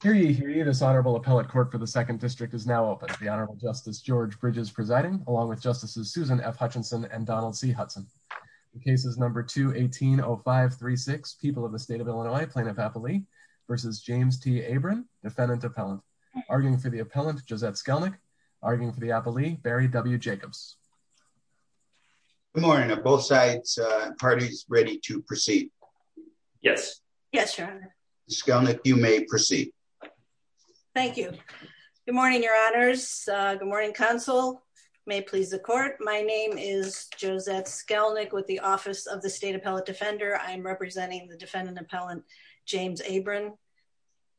for the second district is now open. The Honorable Justice George Bridges presiding, along with Justices Susan F. Hutchinson and Donald C. Hudson. The case is number 2180536, People of the State of Illinois, Plaintiff Appellee v. James T. Abron, Defendant Appellant. Arguing for the Appellant, Josette Skelnick. Arguing for the Appellee, Barry W. Jacobs. Good morning. Are both parties ready to proceed? Yes. Yes, Your Honor. Josette Skelnick, you may proceed. Thank you. Good morning, Your Honors. Good morning, Counsel. May it please the Court, my name is Josette Skelnick with the Office of the State Appellate Defender. I am representing the Defendant Appellant, James Abron.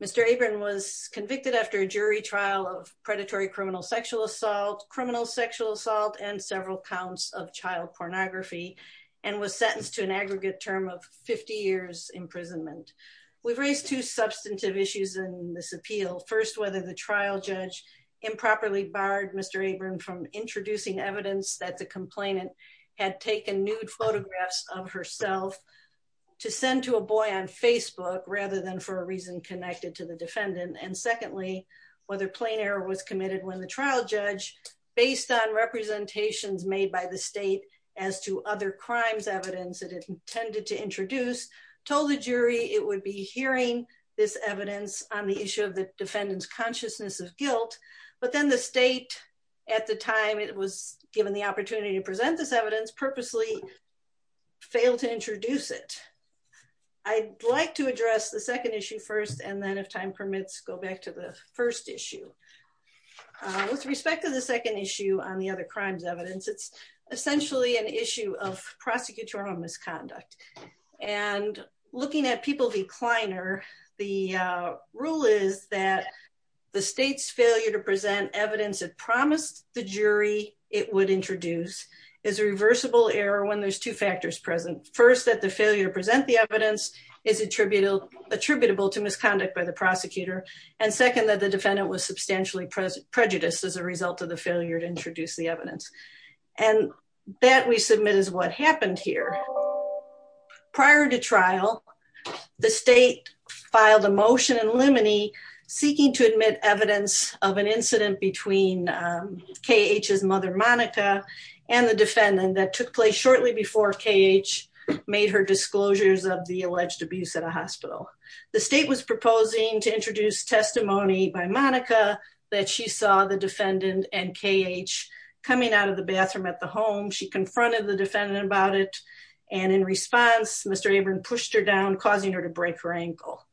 Mr. Abron was convicted after jury trial of predatory criminal sexual assault, criminal sexual assault, and several counts of child pornography, and was sentenced to an aggregate term of 50 years imprisonment. We've raised two substantive issues in this appeal. First, whether the trial judge improperly barred Mr. Abron from introducing evidence that the complainant had taken nude photographs of herself to send to a boy on Facebook, rather than for a reason connected to the defendant. And secondly, whether plain error was committed when the trial judge, based on representations made by the state as to other crimes evidence that it intended to introduce, told the jury it would be hearing this evidence on the issue of the defendant's consciousness of guilt, but then the state, at the time it was given the opportunity to present this evidence, purposely failed to introduce it. I'd like to address the second issue first, and then if time permits, go back to the first issue. With respect to the second issue on the other crimes evidence, it's essentially an issue of prosecutorial misconduct. And looking at People v. Kleiner, the rule is that the state's failure to present evidence that promised the jury it would introduce is a reversible error when there's two factors present. First, that the failure to present the evidence is attributable to misconduct by the prosecutor. And second, that the defendant was substantially prejudiced as a result of the failure to introduce the evidence. And that we submit is what happened here. Prior to trial, the state filed a motion in limine seeking to admit evidence of an incident between KH's mother, Monica, and the defendant that took place shortly before KH made her disclosures of the alleged abuse at a hospital. The state was proposing to introduce testimony by Monica that she saw the defendant and KH coming out of the bathroom at the home. She confronted the defendant about it, and in response, Mr. Abram pushed her down, causing her to break her ankle.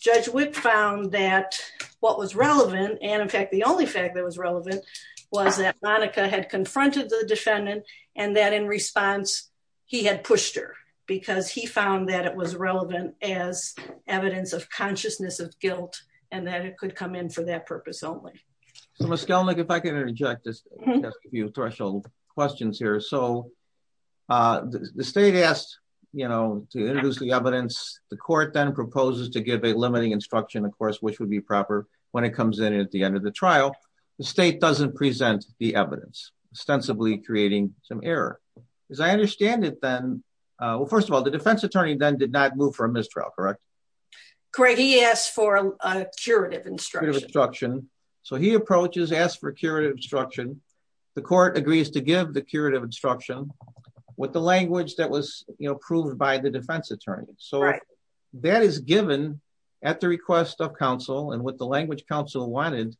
Judge Witt found that what was relevant, and in fact the only fact that was relevant, was that Monica had confronted the defendant, and that in response, he had pushed her, because he found that it was relevant as evidence of consciousness of guilt, and that it could come in for that purpose only. So, Ms. Kellnick, if I can interject just a few threshold questions here. So, the state asked, you know, to introduce the evidence. The court then proposes to give a limiting instruction, of course, which would be proper when it comes in at the end of the trial. The state doesn't present the evidence, ostensibly creating some error. As I understand it then, well, first of all, the defense attorney then did not move for a mistrial, correct? Greg, he asked for a curative instruction. A curative instruction. So, he approaches, asks for a curative instruction. The court agrees to give the curative instruction with the language that was, you know, approved by the defense attorney. So, that is given at the request of counsel, and with the language counsel wanted.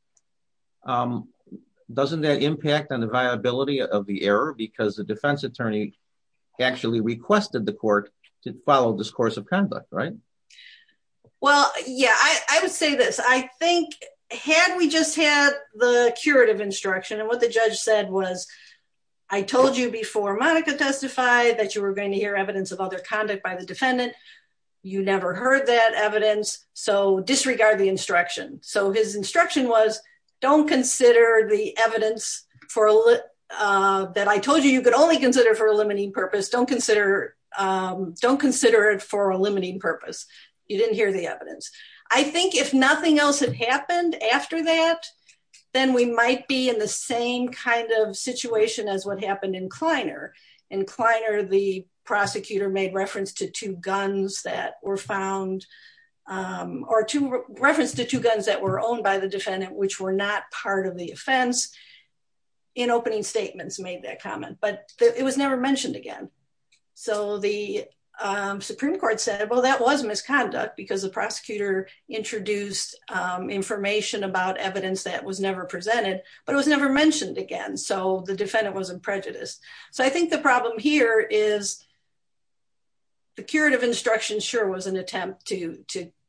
Doesn't that impact on the viability of the error? Because the defense attorney actually requested the court to follow discourse of conduct, right? Well, yeah, I would say this. I think, had we just had the curative instruction, and what the judge said was, I told you before Monica testified that you were going to hear evidence of other conduct by the defendant. You never heard that evidence. So, disregard the instruction. So, his instruction was, don't consider the evidence that I told you you could only consider for a limiting purpose. Don't consider it for a limiting purpose. You didn't hear the evidence. I think if nothing else had happened after that, then we might be in the same kind of situation as what happened in Kleiner. In Kleiner, the prosecutor made reference to two guns that were found, or reference to two guns that were owned by the defendant, which were not part of the offense, in opening statements made that comment. But it was never mentioned again. So, the Supreme Court said, well, that was misconduct, because the prosecutor introduced information about evidence that was never presented, but it was never mentioned again. So, the defendant was in prejudice. So, I think the problem here is, the curative instruction sure was an attempt to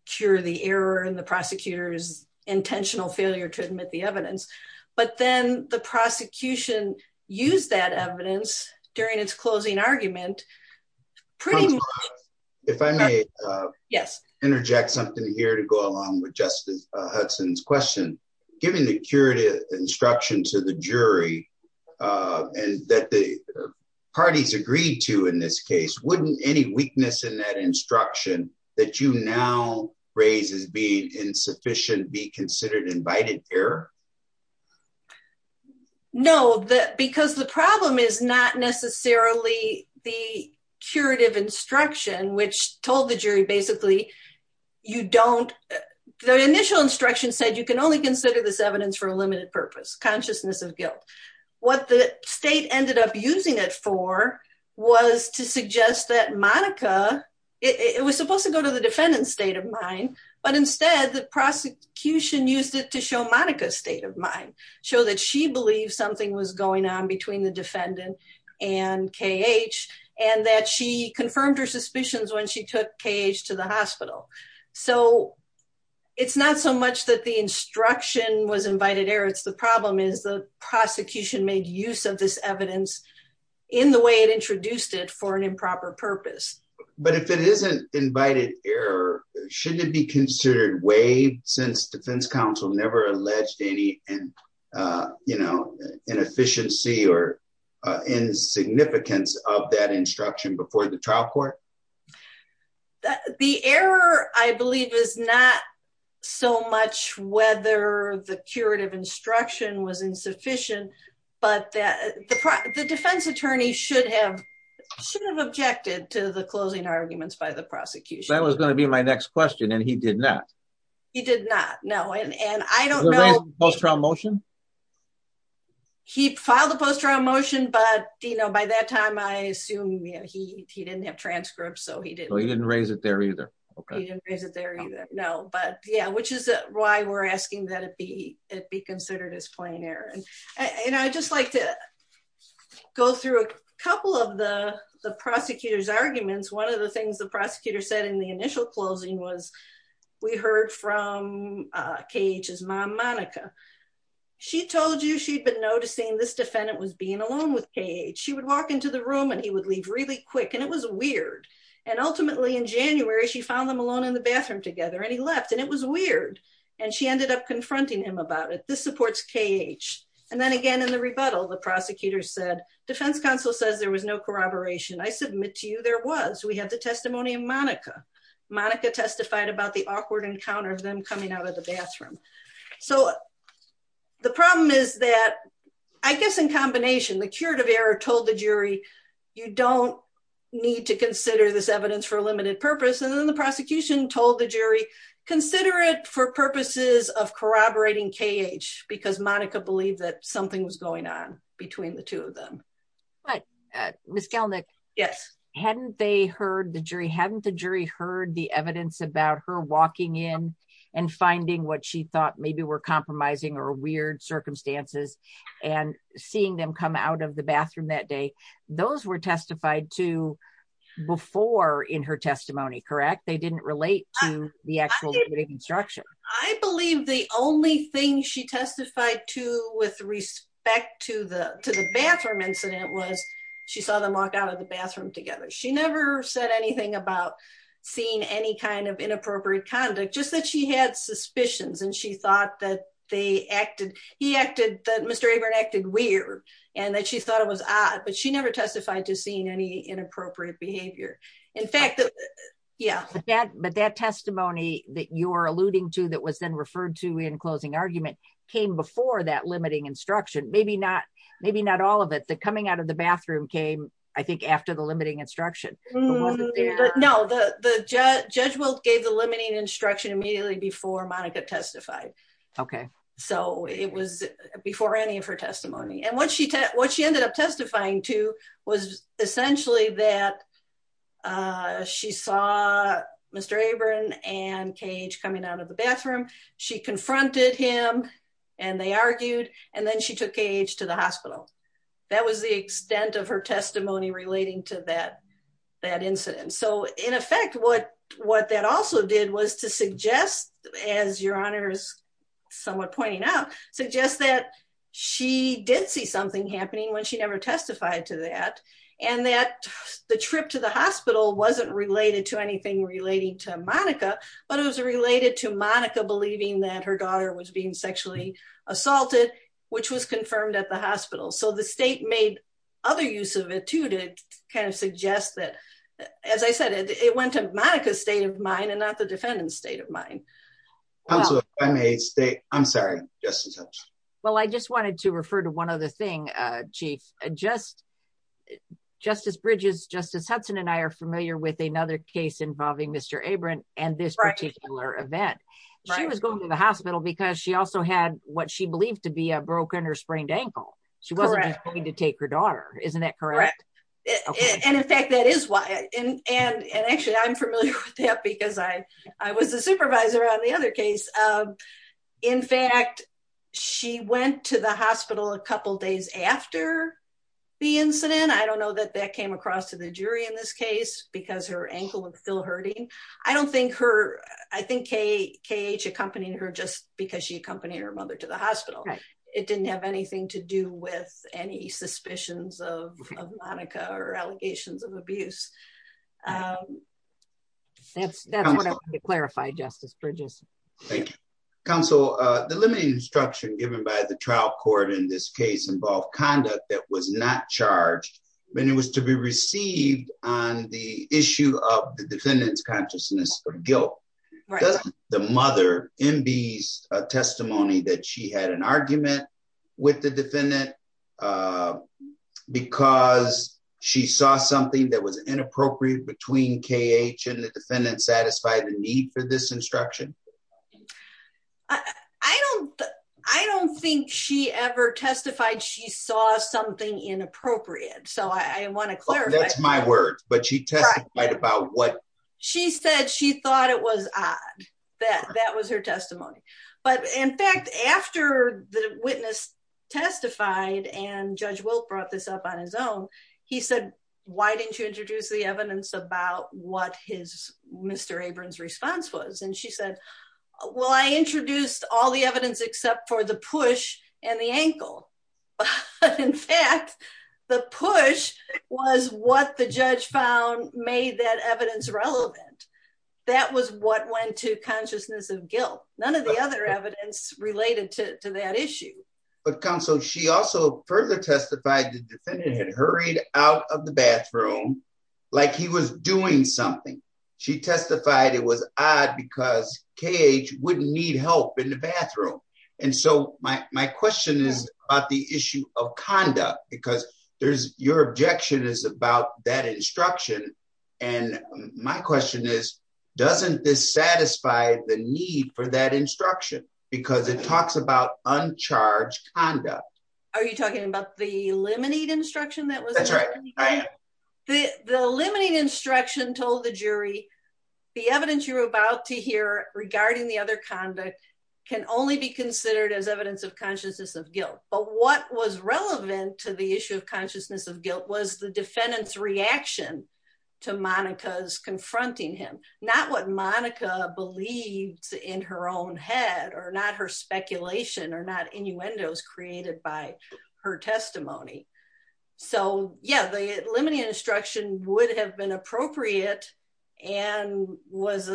cure the error in the prosecutor's intentional failure to admit the evidence. But then, the prosecution used that evidence during its closing argument, pretty much- If I may interject something here to go along with Justice Hudson's question. Given the curative instruction to the jury, and that the parties agreed to in this case, wouldn't any weakness in that instruction that you now raise as being insufficient, be considered invited error? No, because the problem is not necessarily the curative instruction, which told the jury, basically, you don't- The initial instruction said you can only consider this evidence for a limited purpose, consciousness of guilt. What the state ended up using it for was to suggest that Monica- It was supposed to go to the defendant's state of mind, but instead, the prosecution used it to show Monica's state of mind, show that she believed something was going on between the defendant and KH, and that she confirmed her suspicions when she took KH to the hospital. So, it's not so much that the instruction was invited error, it's the problem is the prosecution made use of this evidence in the way it introduced it for an improper purpose. But if it isn't invited error, shouldn't it be considered waived since defense counsel never alleged any inefficiency or insignificance of that instruction before the trial court? The error, I believe, is not so much whether the curative instruction was insufficient, but the defense attorney should have objected to the closing arguments by the prosecution. That was going to be my next question, and he did not. He did not, no. And I don't know- Was he raised in post-trial motion? He filed a post-trial motion, but by that time, I assume he didn't have transcripts, so he didn't- So, he didn't raise it there either. He didn't raise it there either, no. But yeah, which is why we're asking that it be considered as plain error. And I'd just like to go through a couple of the prosecutor's arguments. One of the things the prosecutor said in the initial closing was, we heard from KH's mom, Monica. She told you she'd been noticing this defendant was being alone with KH. She would walk into the room, and he would leave really quick, and it was weird. And ultimately, in January, she found them alone in the bathroom together, and he left, and it was weird. And she ended up confronting him about it. This supports KH. And then again, in the rebuttal, the prosecutor said, defense counsel says there was no corroboration. I submit to you there was. We had the testimony of Monica. Monica testified about the awkward encounter of them coming out of the bathroom. So, the problem is that, I guess in combination, the curative error told the jury, you don't need to consider this evidence for a limited purpose. And then the prosecution told the jury, consider it for purposes of corroborating KH, because Monica believed that something was going on between the two of them. But Ms. Galnick. Yes. Hadn't they heard the jury, hadn't the jury heard the evidence about her walking in and finding what she thought maybe were compromising or weird circumstances, and seeing them come out of the bathroom that day. Those were testified to before in her testimony, correct? They didn't relate to the actual building construction. I believe the only thing she testified to with respect to the bathroom incident was she saw them walk out of the bathroom together. She never said anything about seeing any kind of inappropriate conduct, just that she had suspicions. And she thought that they acted, he acted that Mr. Abram acted weird, and that she thought it was odd, but she never testified to seeing any inappropriate behavior. In fact, yeah. But that testimony that you're alluding to that was then referred to in closing argument came before that limiting instruction, maybe not, maybe not all of it, the coming out of the bathroom came, I think, after the limiting instruction. But no, the judge will give the limiting instruction immediately before Monica testified. Okay. So it was before any of her testimony. And what she, what she ended up testifying to was essentially that she saw Mr. Abram and Cage coming out of the bathroom, she confronted him, and they argued, and then she took Cage to the hospital. That was the extent of her testimony relating to that, that incident. So in effect, what what that also did was to suggest, as Your Honor is somewhat pointing out, suggest that she did see something happening when she never testified to that. And that the trip to the hospital wasn't related to anything relating to Monica. But it was related to Monica believing that her daughter was being sexually assaulted, which was confirmed at the hospital. So the state made other use of it to to kind of suggest that, as I said, it went to Monica's state of mind and not the defendant's state of mind. I'm sorry, Justice Hudson. Well, I just wanted to refer to one other thing, Chief. Justice Bridges, Justice Hudson and I are familiar with another case involving Mr. Abram and this particular event. She was going to the She wasn't going to take her daughter, isn't that correct? And in fact, that is why. And actually, I'm familiar with that because I was the supervisor on the other case. In fact, she went to the hospital a couple days after the incident. I don't know that that came across to the jury in this case, because her ankle was still hurting. I don't think her, I think Cage accompanied her just because she accompanied her mother to the with any suspicions of Monica or allegations of abuse. That's that's what I want to clarify, Justice Bridges. Thank you, counsel. The limiting instruction given by the trial court in this case involved conduct that was not charged when it was to be received on the issue of the defendant's uh, because she saw something that was inappropriate between K.H. and the defendant satisfied the need for this instruction. I don't I don't think she ever testified she saw something inappropriate, so I want to clarify. That's my word, but she testified about what? She said she thought it was odd that that was her testimony. But in fact, after the witness testified and Judge Wilt brought this up on his own, he said, Why didn't you introduce the evidence about what his Mr. Abrams response was? And she said, Well, I introduced all the evidence except for the push and the ankle. In fact, the push was what the judge found made that evidence relevant. That was what went to consciousness of guilt. None of the other related to that issue. But counsel, she also further testified the defendant had hurried out of the bathroom like he was doing something. She testified it was odd because K.H. wouldn't need help in the bathroom. And so my question is about the issue of conduct, because there's your objection is about that instruction. And my question is, doesn't this satisfy the need for that instruction? Because it talks about uncharged conduct. Are you talking about the limited instruction that was? That's right. The limiting instruction told the jury the evidence you're about to hear regarding the other conduct can only be considered as evidence of consciousness of guilt. But what was relevant to the issue of consciousness of guilt was the defendant's reaction to Monica's in her own head or not her speculation or not innuendos created by her testimony. So, yeah, the limiting instruction would have been appropriate and was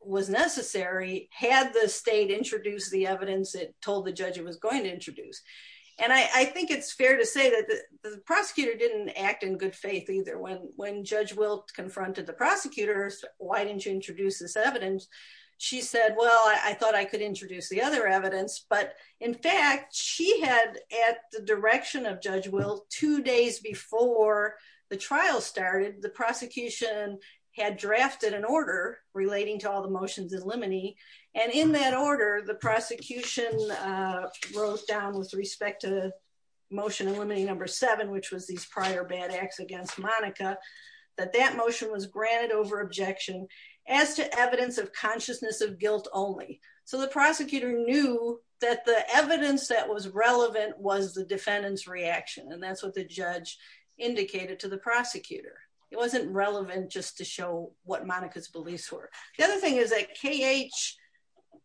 was necessary. Had the state introduced the evidence it told the judge it was going to introduce. And I think it's fair to say that the prosecutor didn't act in good faith either. When when Judge confronted the prosecutors, why didn't you introduce this evidence? She said, well, I thought I could introduce the other evidence. But in fact, she had at the direction of Judge Will two days before the trial started, the prosecution had drafted an order relating to all the motions in limine. And in that order, the prosecution wrote down with respect to motion number seven, which was these prior bad acts against Monica, that that motion was granted over objection as to evidence of consciousness of guilt only. So the prosecutor knew that the evidence that was relevant was the defendant's reaction. And that's what the judge indicated to the prosecutor. It wasn't relevant just to show what Monica's beliefs were. The other thing is KH,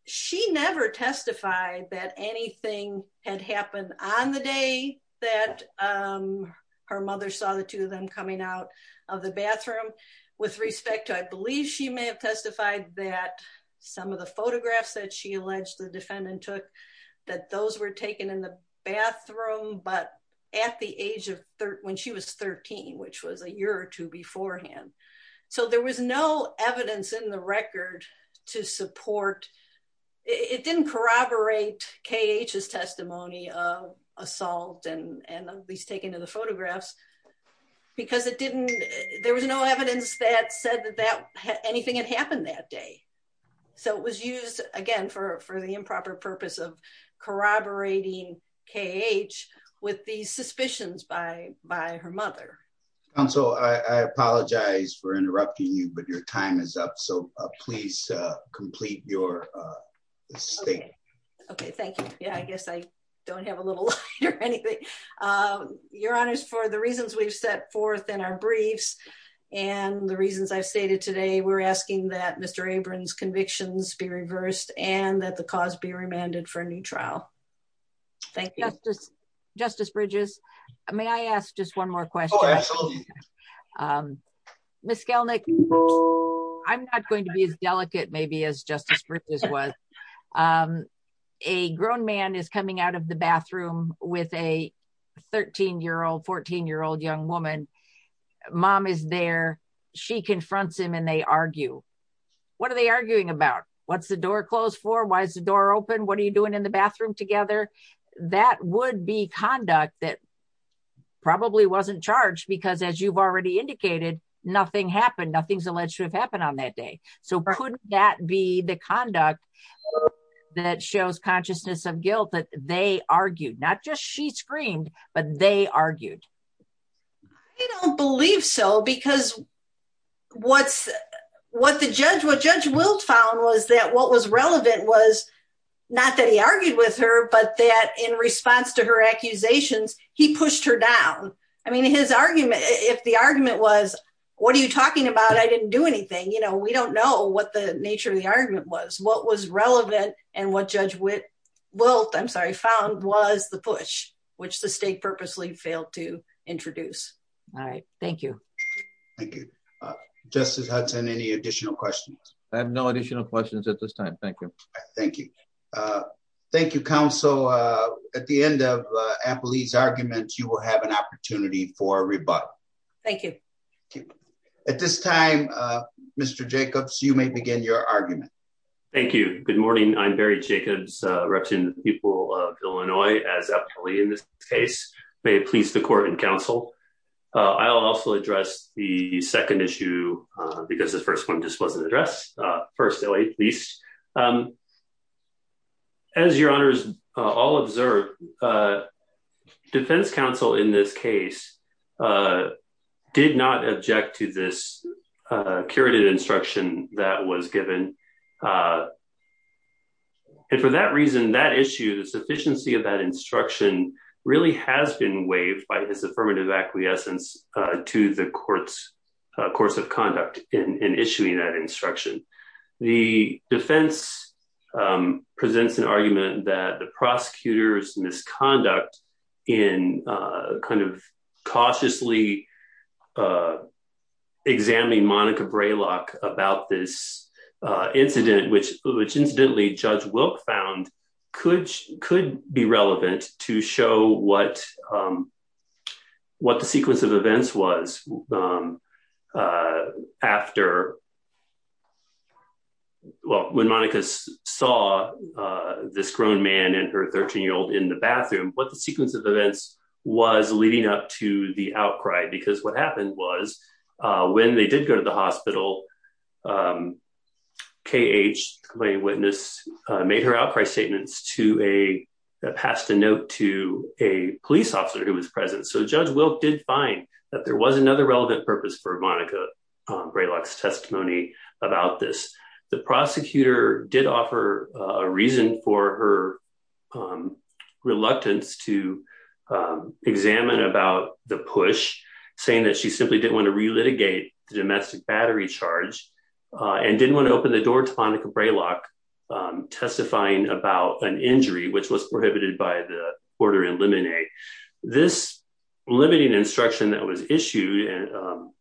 she never testified that anything had happened on the day that her mother saw the two of them coming out of the bathroom. With respect to I believe she may have testified that some of the photographs that she alleged the defendant took, that those were taken in the bathroom, but at the age of when she was 13, which was a year or two beforehand. So there was no evidence in the record to support, it didn't corroborate KH's testimony of assault and these taken in the photographs. Because it didn't, there was no evidence that said that anything had happened that day. So it was used again, for the improper purpose of corroborating KH with these suspicions by her mother. Counsel, I apologize for interrupting you, but your time is up. So please complete your statement. Okay, thank you. Yeah, I guess I don't have a little light or anything. Your honors, for the reasons we've set forth in our briefs, and the reasons I've stated today, we're asking that Mr. Abrams convictions be reversed and that the cause be remanded for trial. Thank you. Justice Bridges, may I ask just one more question? Ms. Skelnick, I'm not going to be as delicate maybe as Justice Bridges was. A grown man is coming out of the bathroom with a 13-year-old, 14-year-old young woman. Mom is there. She confronts him and they argue. What are they arguing about? What's the door closed for? Why is the door open? What are you doing in the bathroom together? That would be conduct that probably wasn't charged because as you've already indicated, nothing happened. Nothing's alleged to have happened on that day. So could that be the conduct that shows consciousness of guilt that they argued? Not just she screamed, but they argued. I don't believe so because what Judge Wilt found was that what was relevant was not that he argued with her, but that in response to her accusations, he pushed her down. I mean, if the argument was, what are you talking about? I didn't do anything. We don't know what the nature of the argument was. What was relevant and what Judge Wilt found was the push, which the state purposely failed to introduce. All right. Thank you. Thank you. Justice Hudson, any additional questions? I have no additional questions at this time. Thank you. Thank you. Thank you, counsel. At the end of Appleby's argument, you will have an opportunity for rebuttal. Thank you. At this time, Mr. Jacobs, you may begin your argument. Thank you. Good morning. I'm Barry Jacobs, representative of the people of Illinois as Appleby in this case. May it please the court and counsel, I'll also address the second issue because the first one just wasn't addressed. First, Ellie, please. As your honors all observed, defense counsel in this case did not object to this instruction that was given. And for that reason, that issue, the sufficiency of that instruction really has been waived by his affirmative acquiescence to the court's course of conduct in issuing that instruction. The defense presents an argument that the prosecutor's misconduct in kind of cautiously examining Monica Braylock about this incident, which incidentally Judge Wilk found could be relevant to show what the sequence of events was after. Well, when Monica saw this grown man and her 13-year-old in the bathroom, what the sequence of events was leading up to the outcry, because what happened was when they did go to the hospital, K.H., the complainant witness, made her outcry statements to a, passed a note to a police officer who was present. So Judge Wilk did find that there was another relevant purpose for Monica Braylock's testimony about this. The prosecutor did offer a reason for her reluctance to examine about the push, saying that she simply didn't want to relitigate the domestic battery charge and didn't want to open the door to Monica Braylock testifying about an injury, which was prohibited by the order in limine. This limiting instruction that was issued and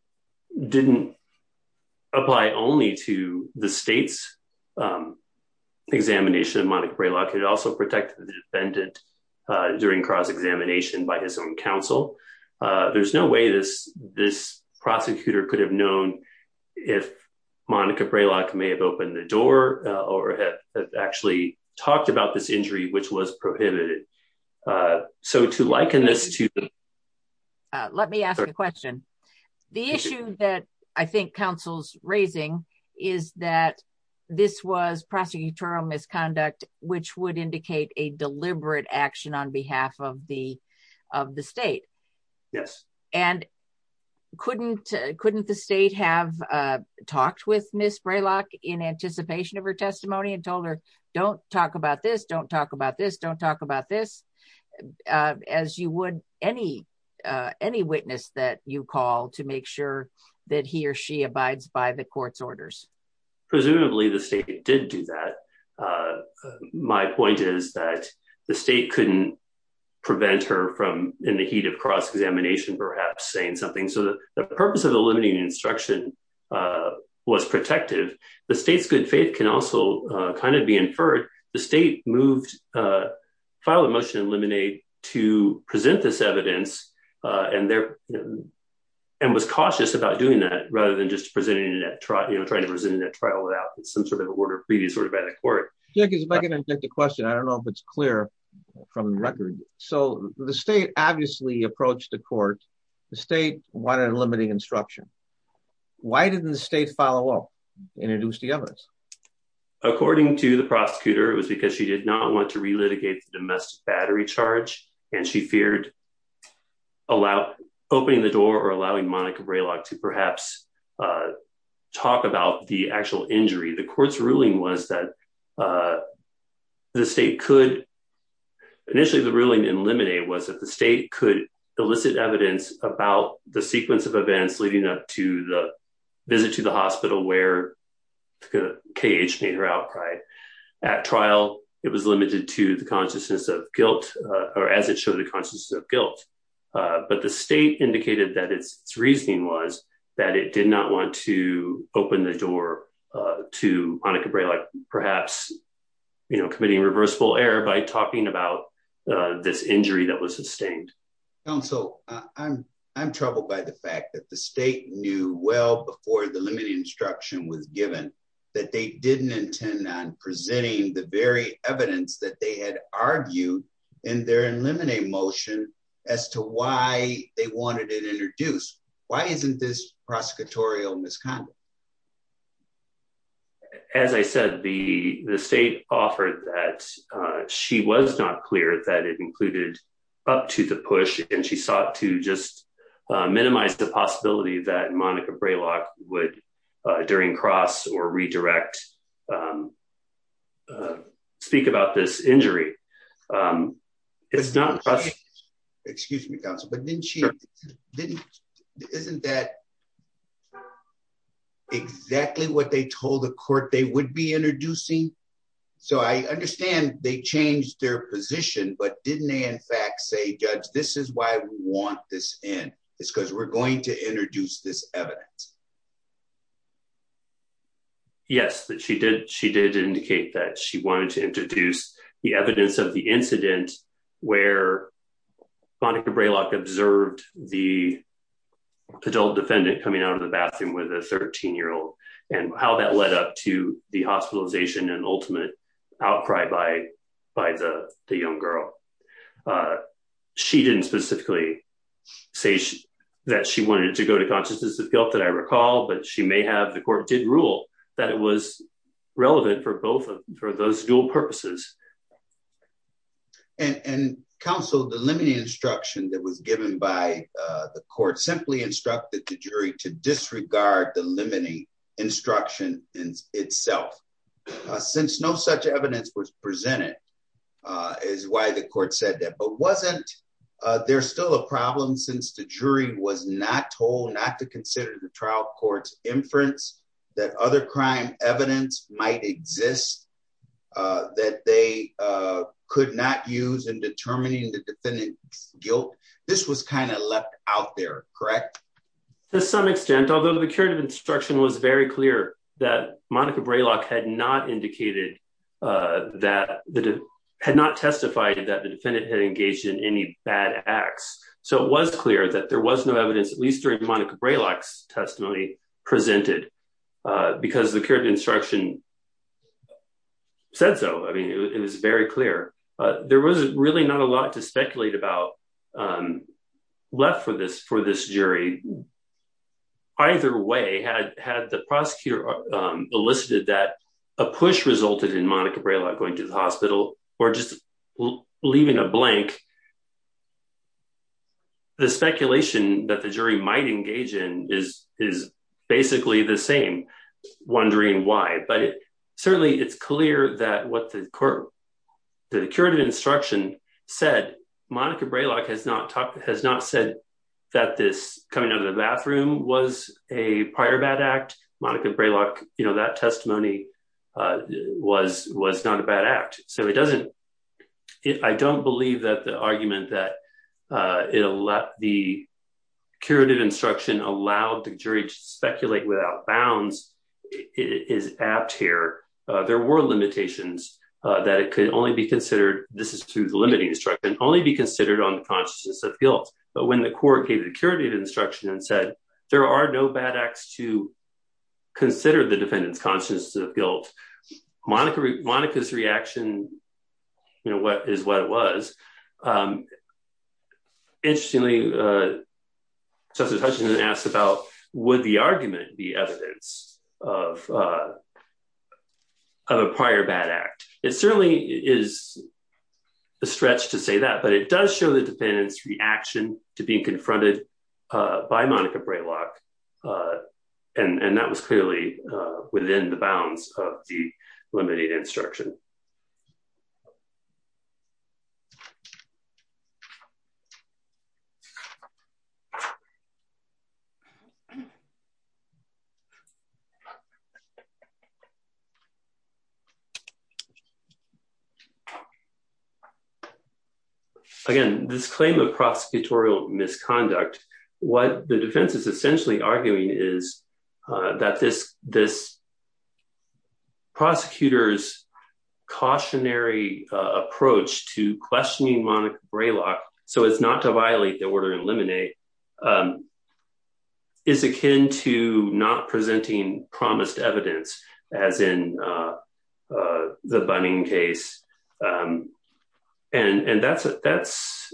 didn't apply only to the state's examination of Monica Braylock, it also protected the defendant during cross-examination by his own counsel. There's no way this prosecutor could have known if Monica Braylock may have opened the door or actually talked about this injury, which was the issue that I think counsel's raising is that this was prosecutorial misconduct, which would indicate a deliberate action on behalf of the state. Yes. And couldn't the state have talked with Ms. Braylock in anticipation of her testimony and told her, don't talk about this, don't talk about this, don't talk about this, as you would any witness that you call to make sure that he or she abides by the court's orders? Presumably the state did do that. My point is that the state couldn't prevent her from, in the heat of cross-examination, perhaps saying something. So the purpose of the limiting instruction was protective. The state's good to file a motion to eliminate to present this evidence and was cautious about doing that, rather than just trying to present it in a trial without some sort of order of previous order by the court. Jack, if I can interject a question, I don't know if it's clear from the record. So the state obviously approached the court, the state wanted a limiting instruction. Why didn't the state follow up and introduce the evidence? According to the prosecutor, it was because she did not want to relitigate the domestic battery charge and she feared opening the door or allowing Monica Braylock to perhaps talk about the actual injury. The court's ruling was that the state could, initially the ruling in limine was that the state could elicit evidence about the sequence of events leading up to the visit to the hospital where KH made her outcry. At trial, it was limited to the consciousness of guilt or as it showed the consciousness of guilt. But the state indicated that its reasoning was that it did not want to open the door to Monica Braylock, perhaps committing reversible error by talking about this injury that was that the state knew well before the limiting instruction was given that they didn't intend on presenting the very evidence that they had argued in their limine motion as to why they wanted it introduced. Why isn't this prosecutorial misconduct? As I said, the state offered that she was not clear that it included up to the push and she that Monica Braylock would during cross or redirect speak about this injury. Excuse me, counsel, but didn't she, isn't that exactly what they told the court they would be introducing? So I understand they changed their position, but didn't they in fact say, judge, this is why we want this in. It's because we're going to introduce this evidence. Yes, she did. She did indicate that she wanted to introduce the evidence of the incident where Monica Braylock observed the adult defendant coming out of the bathroom with a 13 year old and how that led up to the hospitalization and ultimate outcry by the young girl. Uh, she didn't specifically say that she wanted to go to consciousness of guilt that I recall, but she may have, the court did rule that it was relevant for both of those dual purposes. And counsel, the limiting instruction that was given by the court simply instructed the jury to disregard the limiting instruction in itself. Since no such evidence was presented uh, is why the court said that, but wasn't, uh, there's still a problem since the jury was not told not to consider the trial court's inference that other crime evidence might exist, uh, that they, uh, could not use in determining the defendant's guilt. This was kind of left out there, correct? To some extent, although the current instruction was very clear that Monica had not testified that the defendant had engaged in any bad acts. So it was clear that there was no evidence, at least during Monica Braylock's testimony presented, uh, because the current instruction said so. I mean, it was very clear, uh, there wasn't really not a lot to speculate about, um, left for this, for this jury. Either way had, had the prosecutor, um, elicited that a push resulted in Monica Braylock going to the hospital or just leaving a blank. The speculation that the jury might engage in is, is basically the same, wondering why, but certainly it's clear that what the court, the current instruction said, Monica Braylock has not talked, has not said that this coming out of the bathroom was a prior bad act. Monica Braylock, you know, that testimony, uh, was, was not a bad act. So it doesn't, it, I don't believe that the argument that, uh, it allowed the curative instruction allowed the jury to speculate without bounds is apt here. Uh, there were limitations, uh, that it could only be considered, this is through the limiting instruction, only be considered on the consciousness of guilt. But when the court gave the curative instruction and said there are no bad acts to consider the defendant's consciousness of guilt, Monica, Monica's reaction, you know, is what it was. Interestingly, uh, Justice Hutchinson asked about would the argument be evidence of, uh, of a prior bad act? It certainly is a stretch to say that, but it does show the defendant's reaction to being confronted, uh, by Monica Braylock, uh, and, and that was clearly, uh, within the bounds of the limited instruction. So, again, this claim of prosecutorial misconduct, what the defense is essentially arguing is, uh, cautionary, uh, approach to questioning Monica Braylock so as not to violate the order and eliminate, um, is akin to not presenting promised evidence as in, uh, uh, the Bunning case. And, and that's, that's,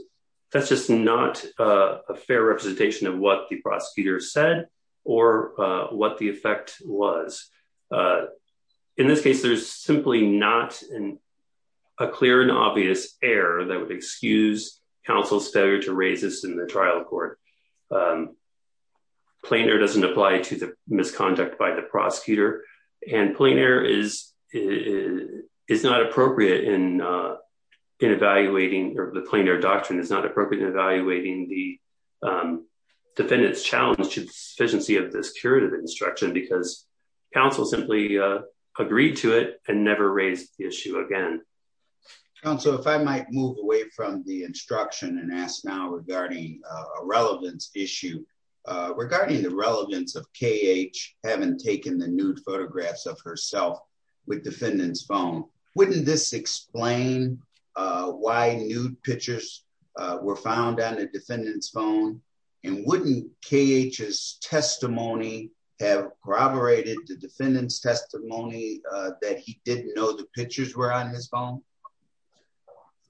that's just not, uh, a fair representation of what the prosecutor said or, uh, what the effect was. Uh, in this case, there's simply not an, a clear and obvious error that would excuse counsel's failure to raise this in the trial court. Um, plainer doesn't apply to the misconduct by the prosecutor and plainer is, is, is not appropriate in, uh, in evaluating, or the plainer doctrine is not appropriate in evaluating the, um, defendant's deficiency of this curative instruction because counsel simply, uh, agreed to it and never raised the issue again. Counsel, if I might move away from the instruction and ask now regarding a relevance issue, uh, regarding the relevance of KH having taken the nude photographs of herself with defendant's phone, wouldn't this explain, uh, why nude pictures, uh, were found on the phone and wouldn't KH's testimony have corroborated the defendant's testimony, uh, that he didn't know the pictures were on his phone?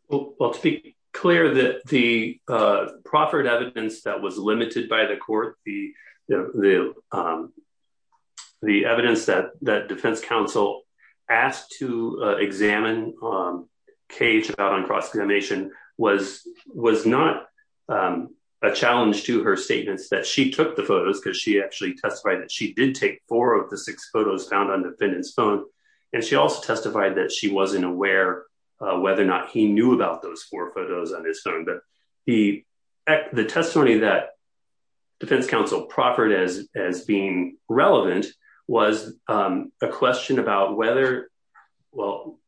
Well, to be clear that the, uh, proffered evidence that was limited by the court, the, the, um, the evidence that, that defense counsel asked to, uh, examine, um, KH about on cross-examination was, was not, um, a challenge to her statements that she took the photos because she actually testified that she did take four of the six photos found on defendant's phone. And she also testified that she wasn't aware, uh, whether or not he knew about those four photos on his phone. But the, the testimony that defense counsel proffered as, as being relevant was, um, a question about whether, well,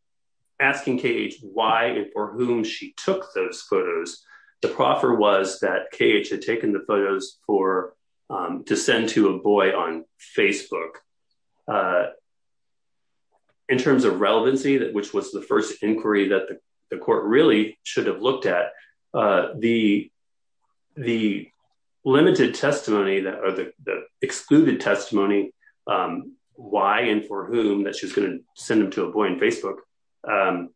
asking KH why or whom she took those photos. The proffer was that KH had taken the photos for, um, to send to a boy on Facebook. Uh, in terms of relevancy that, which was the first inquiry that the court really should have looked at, uh, the, the limited testimony that, or the excluded testimony, um, why and for whom that she was going to send them to a boy on Facebook, um,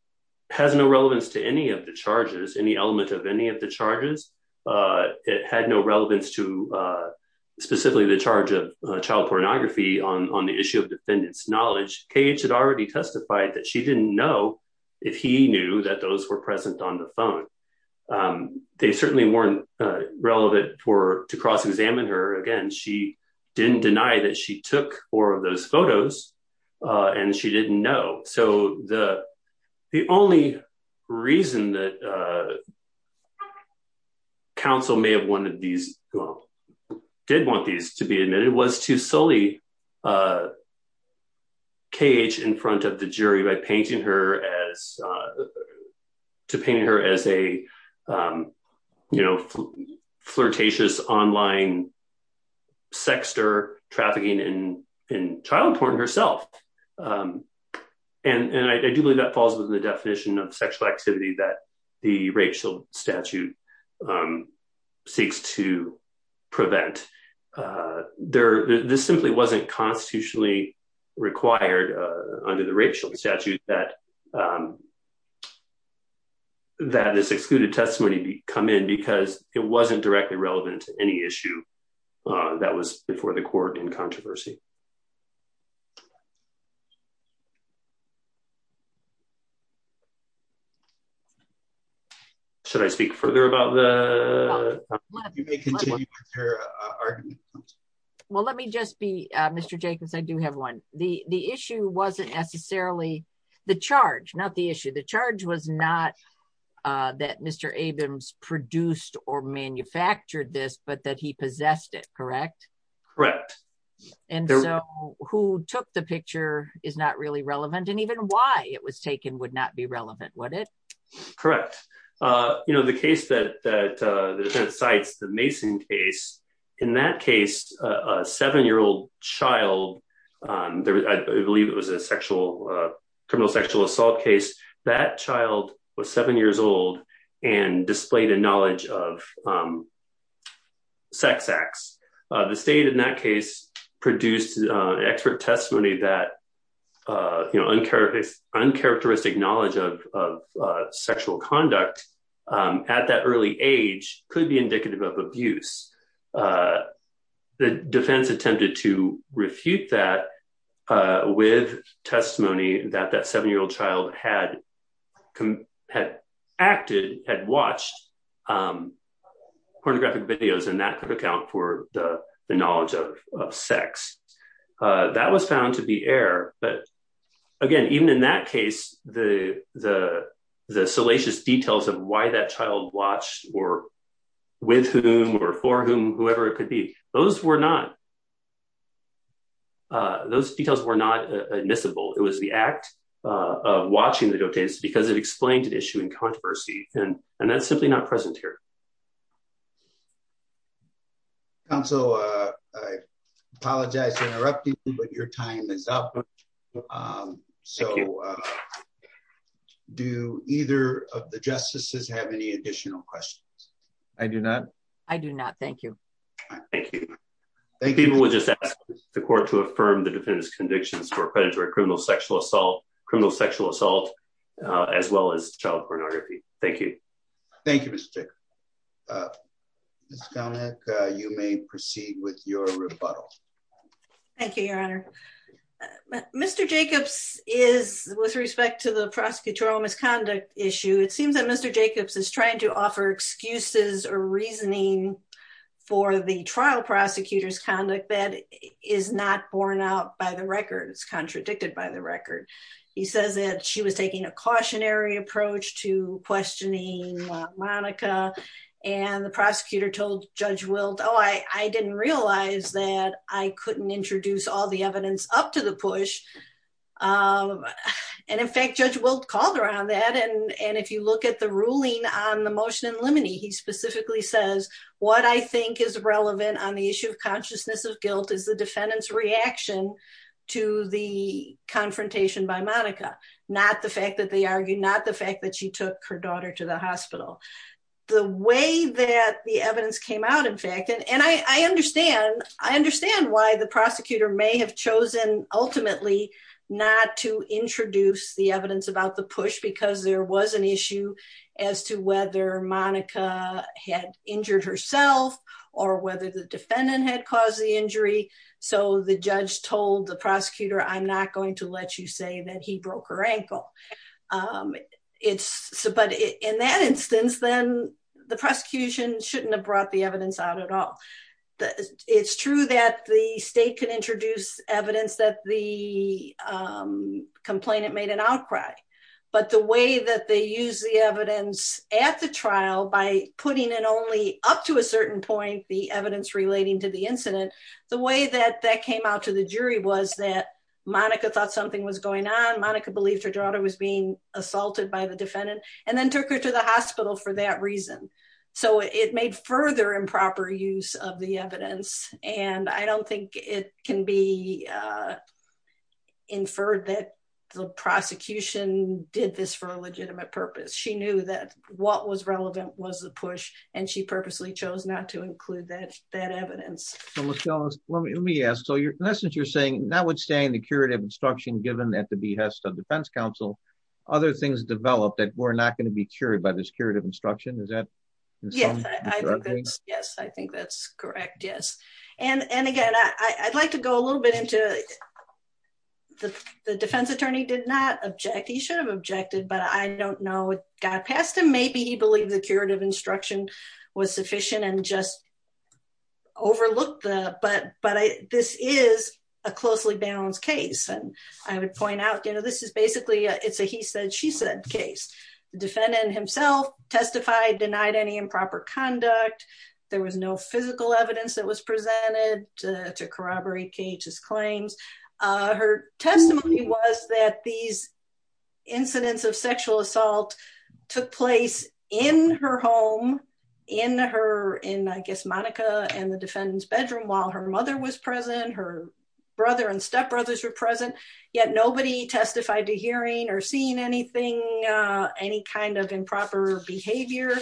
has no relevance to any of the charges, any element of any of the charges. Uh, it had no relevance to, uh, specifically the charge of child pornography on, on the issue of defendant's knowledge. KH had already testified that she um, they certainly weren't, uh, relevant for, to cross-examine her. Again, she didn't deny that she took four of those photos, uh, and she didn't know. So the, the only reason that, uh, counsel may have wanted these, well, did want these to be admitted was to sully, uh, KH in front of the jury by painting her as, uh, to paint her as a, um, you know, flirtatious online sexter trafficking in, in child porn herself. Um, and, and I do believe that falls within the definition of sexual activity that the racial statute, um, seeks to prevent. Uh, there, this simply wasn't constitutionally required, uh, under the racial statute that, um, that this excluded testimony come in because it wasn't directly relevant to any issue, uh, that was before the court in controversy. Should I speak further about the argument? Well, let me just be a Mr. Jacobs. I do have one. The, the issue wasn't necessarily the charge, not the issue. The charge was not, uh, that Mr. Abrams produced or manufactured this, but that he possessed it, correct? Correct. And so who took the picture is not really relevant. And even why it was taken would not be relevant, would it? Correct. Uh, you know, the case that, that, uh, that cites the Mason case in that case, a seven-year-old child, um, there was, I believe it was a sexual, uh, criminal sexual assault case. That child was seven years old and displayed a knowledge of, um, sex acts. Uh, the state in that case produced an expert testimony that, uh, you know, uncharacteristic, uncharacteristic knowledge of, of, uh, sexual conduct, um, at that early age could be indicative of abuse. Uh, the defense attempted to refute that, uh, with testimony that that seven-year-old child had come, had acted, had watched, um, pornographic videos. And that could account for the knowledge of, of sex, uh, that was found to be air. But again, even in that case, the, the, the salacious details of why that child watched or with whom or for whom, whoever it could be, those were not, uh, those details were not admissible. It was the act, uh, of watching the dotas because it explained an issue in controversy. And, and that's simply not present here. Counsel, uh, I apologize for interrupting, but your time is up. Um, so, uh, do either of the justices have any additional questions? I do not. I do not. Thank you. Thank you. People would just ask the court to affirm the defendant's convictions for predatory criminal sexual assault, criminal sexual assault, uh, as well as child pornography. Thank you. Thank you, Mr. Dick. Uh, you may proceed with your rebuttal. Thank you, your honor. Uh, Mr. Jacobs is with respect to the prosecutorial misconduct issue. It seems that Mr. Jacobs is trying to offer excuses or reasoning for the trial prosecutor's conduct that is not borne out by the record. It's contradicted by the record. He says that she was taking a cautionary approach to questioning Monica and the prosecutor told judge wilt. Oh, I, I didn't realize that I couldn't introduce all the evidence up to the push. Um, and in fact, judge wilt called around that. And, and if you look at the ruling on the motion in limine, he specifically says what I think is relevant on the issue of consciousness of guilt is the defendant's reaction to the confrontation by Monica, not the fact that they argue, not the fact that she took her daughter to the hospital, the way that the evidence came out, in fact, and, and I, I understand, I understand why the prosecutor may have chosen ultimately not to introduce the evidence about the push, because there was an issue as to whether Monica had injured herself or whether the defendant had caused the injury. So the judge told the prosecutor, I'm not going to let you say that he broke her then the prosecution shouldn't have brought the evidence out at all. It's true that the state can introduce evidence that the, um, complainant made an outcry, but the way that they use the evidence at the trial by putting it only up to a certain point, the evidence relating to the incident, the way that that came out to the jury was that Monica thought something was going on. Monica believed her daughter was being hospitalized for that reason. So it made further improper use of the evidence. And I don't think it can be inferred that the prosecution did this for a legitimate purpose. She knew that what was relevant was the push. And she purposely chose not to include that, that evidence. Michelle, let me ask. So your message, you're saying notwithstanding the curative instruction given at the behest of defense counsel, other things developed that were not going to be carried by this curative instruction. Is that? Yes, I think that's correct. Yes. And, and again, I'd like to go a little bit into the defense attorney did not object. He should have objected, but I don't know what got past him. Maybe he believed the curative instruction was sufficient and just overlooked the, but, but I, this is a closely balanced case. And I would point out, you know, this is basically a, it's a, he said, she said case defendant himself testified, denied any improper conduct. There was no physical evidence that was presented to corroborate Kate's claims. Her testimony was that these incidents of sexual assault took place in her home in her, in, I guess, Monica and the defendant's bedroom while her mother was present, her brother and stepbrothers were present yet. Nobody testified to hearing or seeing anything any kind of improper behavior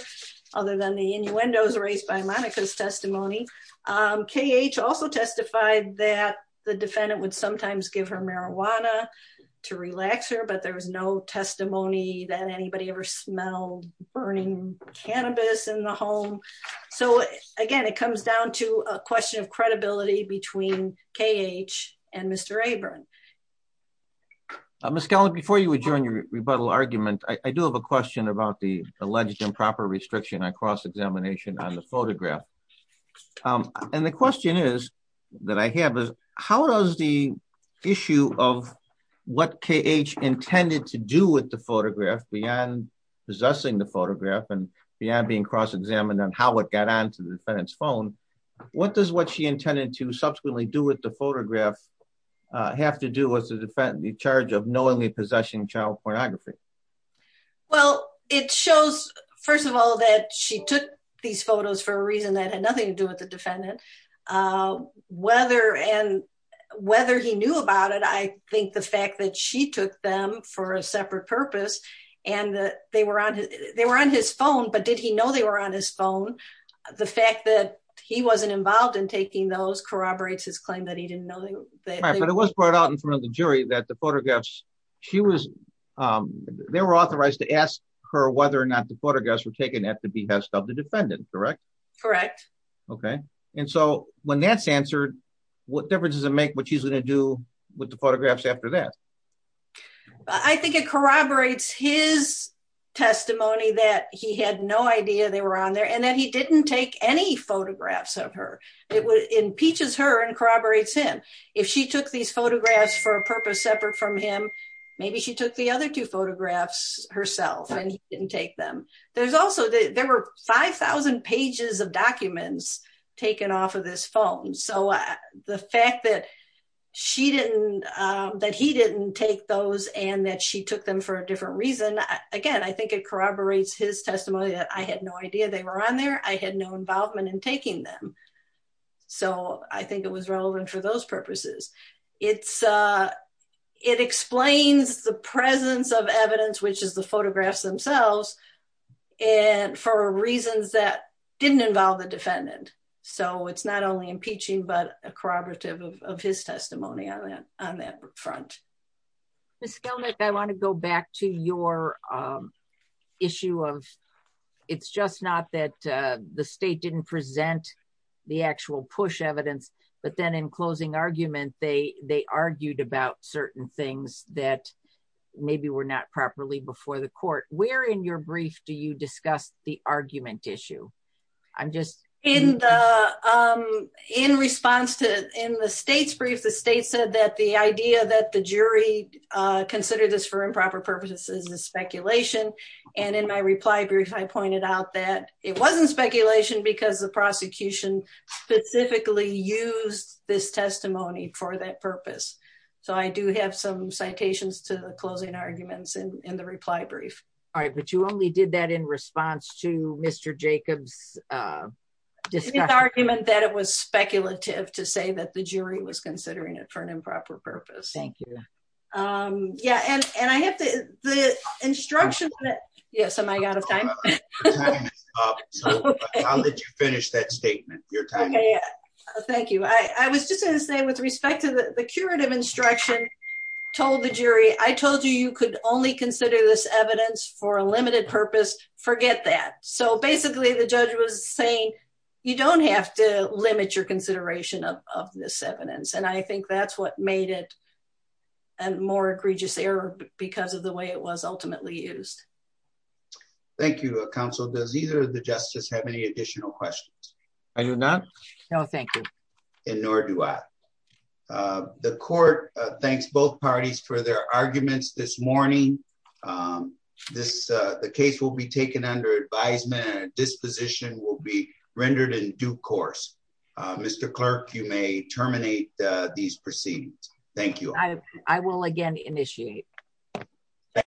other than the innuendos raised by Monica's testimony. KH also testified that the defendant would sometimes give her marijuana to relax her, but there was no testimony that anybody ever smelled burning cannabis in the home. So again, it comes down to a question of credibility between KH and Mr. Abram. Ms. Kelley, before you adjourn your rebuttal argument, I do have a question about the alleged improper restriction on cross-examination on the photograph. And the question is that I have is how does the issue of what KH intended to do with the photograph beyond possessing the photograph and beyond being cross-examined on how it got on to the defendant's phone, what does what she intended to subsequently do with the photograph have to do with the defendant, the charge of knowingly possessing child pornography? Well, it shows, first of all, that she took these photos for a reason that had nothing to do with the defendant. Whether and whether he knew about it, I think the fact that she took them for a separate purpose and that they were on his, they were on his phone, but did he know they were on his phone, the fact that he wasn't involved in taking those corroborates his claim that he didn't know. But it was brought out in front of the jury that the photographs, she was, they were authorized to ask her whether or not the photographs were taken at the behest of the defendant, correct? Correct. Okay, and so when that's answered, what difference does it make what she's going to do with the photographs after that? I think it corroborates his testimony that he had no idea they were on there and that he didn't take any photographs of her. It impeaches her and corroborates him. If she took these photographs for a purpose separate from him, maybe she took the other two photographs herself and he didn't take them. There's also, there were 5,000 pages of documents taken off of this phone, so the fact that she didn't, that he didn't take those and that she took them for a different reason, again, I think it corroborates his testimony that I had no idea they were on there, I had no involvement in taking them. So I think it was relevant for those purposes. It's, it explains the presence of evidence, which is the photographs themselves, and for reasons that didn't involve the defendant. So it's not only impeaching, but a corroborative of his testimony on that front. Ms. Skelnick, I want to go back to your issue of, it's just not that the state didn't present the actual push evidence, but then in closing argument, they, they argued about certain things that maybe were not properly before the court. Where in your brief do you discuss the argument issue? I'm just... In the, in response to in the state's brief, the state said that the idea that the jury considered this for improper purposes is speculation. And in my reply brief, I pointed out that it wasn't speculation because the prosecution specifically used this testimony for that purpose. So I do have some citations to the closing arguments in the reply brief. All right, but you only did that in response to Mr. Jacob's argument that it was speculative to say that the jury was considering it for an The instruction that... Yes, am I out of time? I'll let you finish that statement. Your time. Thank you. I was just going to say with respect to the curative instruction, told the jury, I told you, you could only consider this evidence for a limited purpose, forget that. So basically the judge was saying, you don't have to limit your consideration of this evidence. And I think that's what made it a more egregious error because of the way it was ultimately used. Thank you, counsel. Does either of the justices have any additional questions? I do not. No, thank you. And nor do I. The court thanks both parties for their arguments this morning. This, the case will be taken under advisement and a disposition will be rendered in due course. Mr. Clerk, you may terminate these proceedings. Thank you. I will again initiate.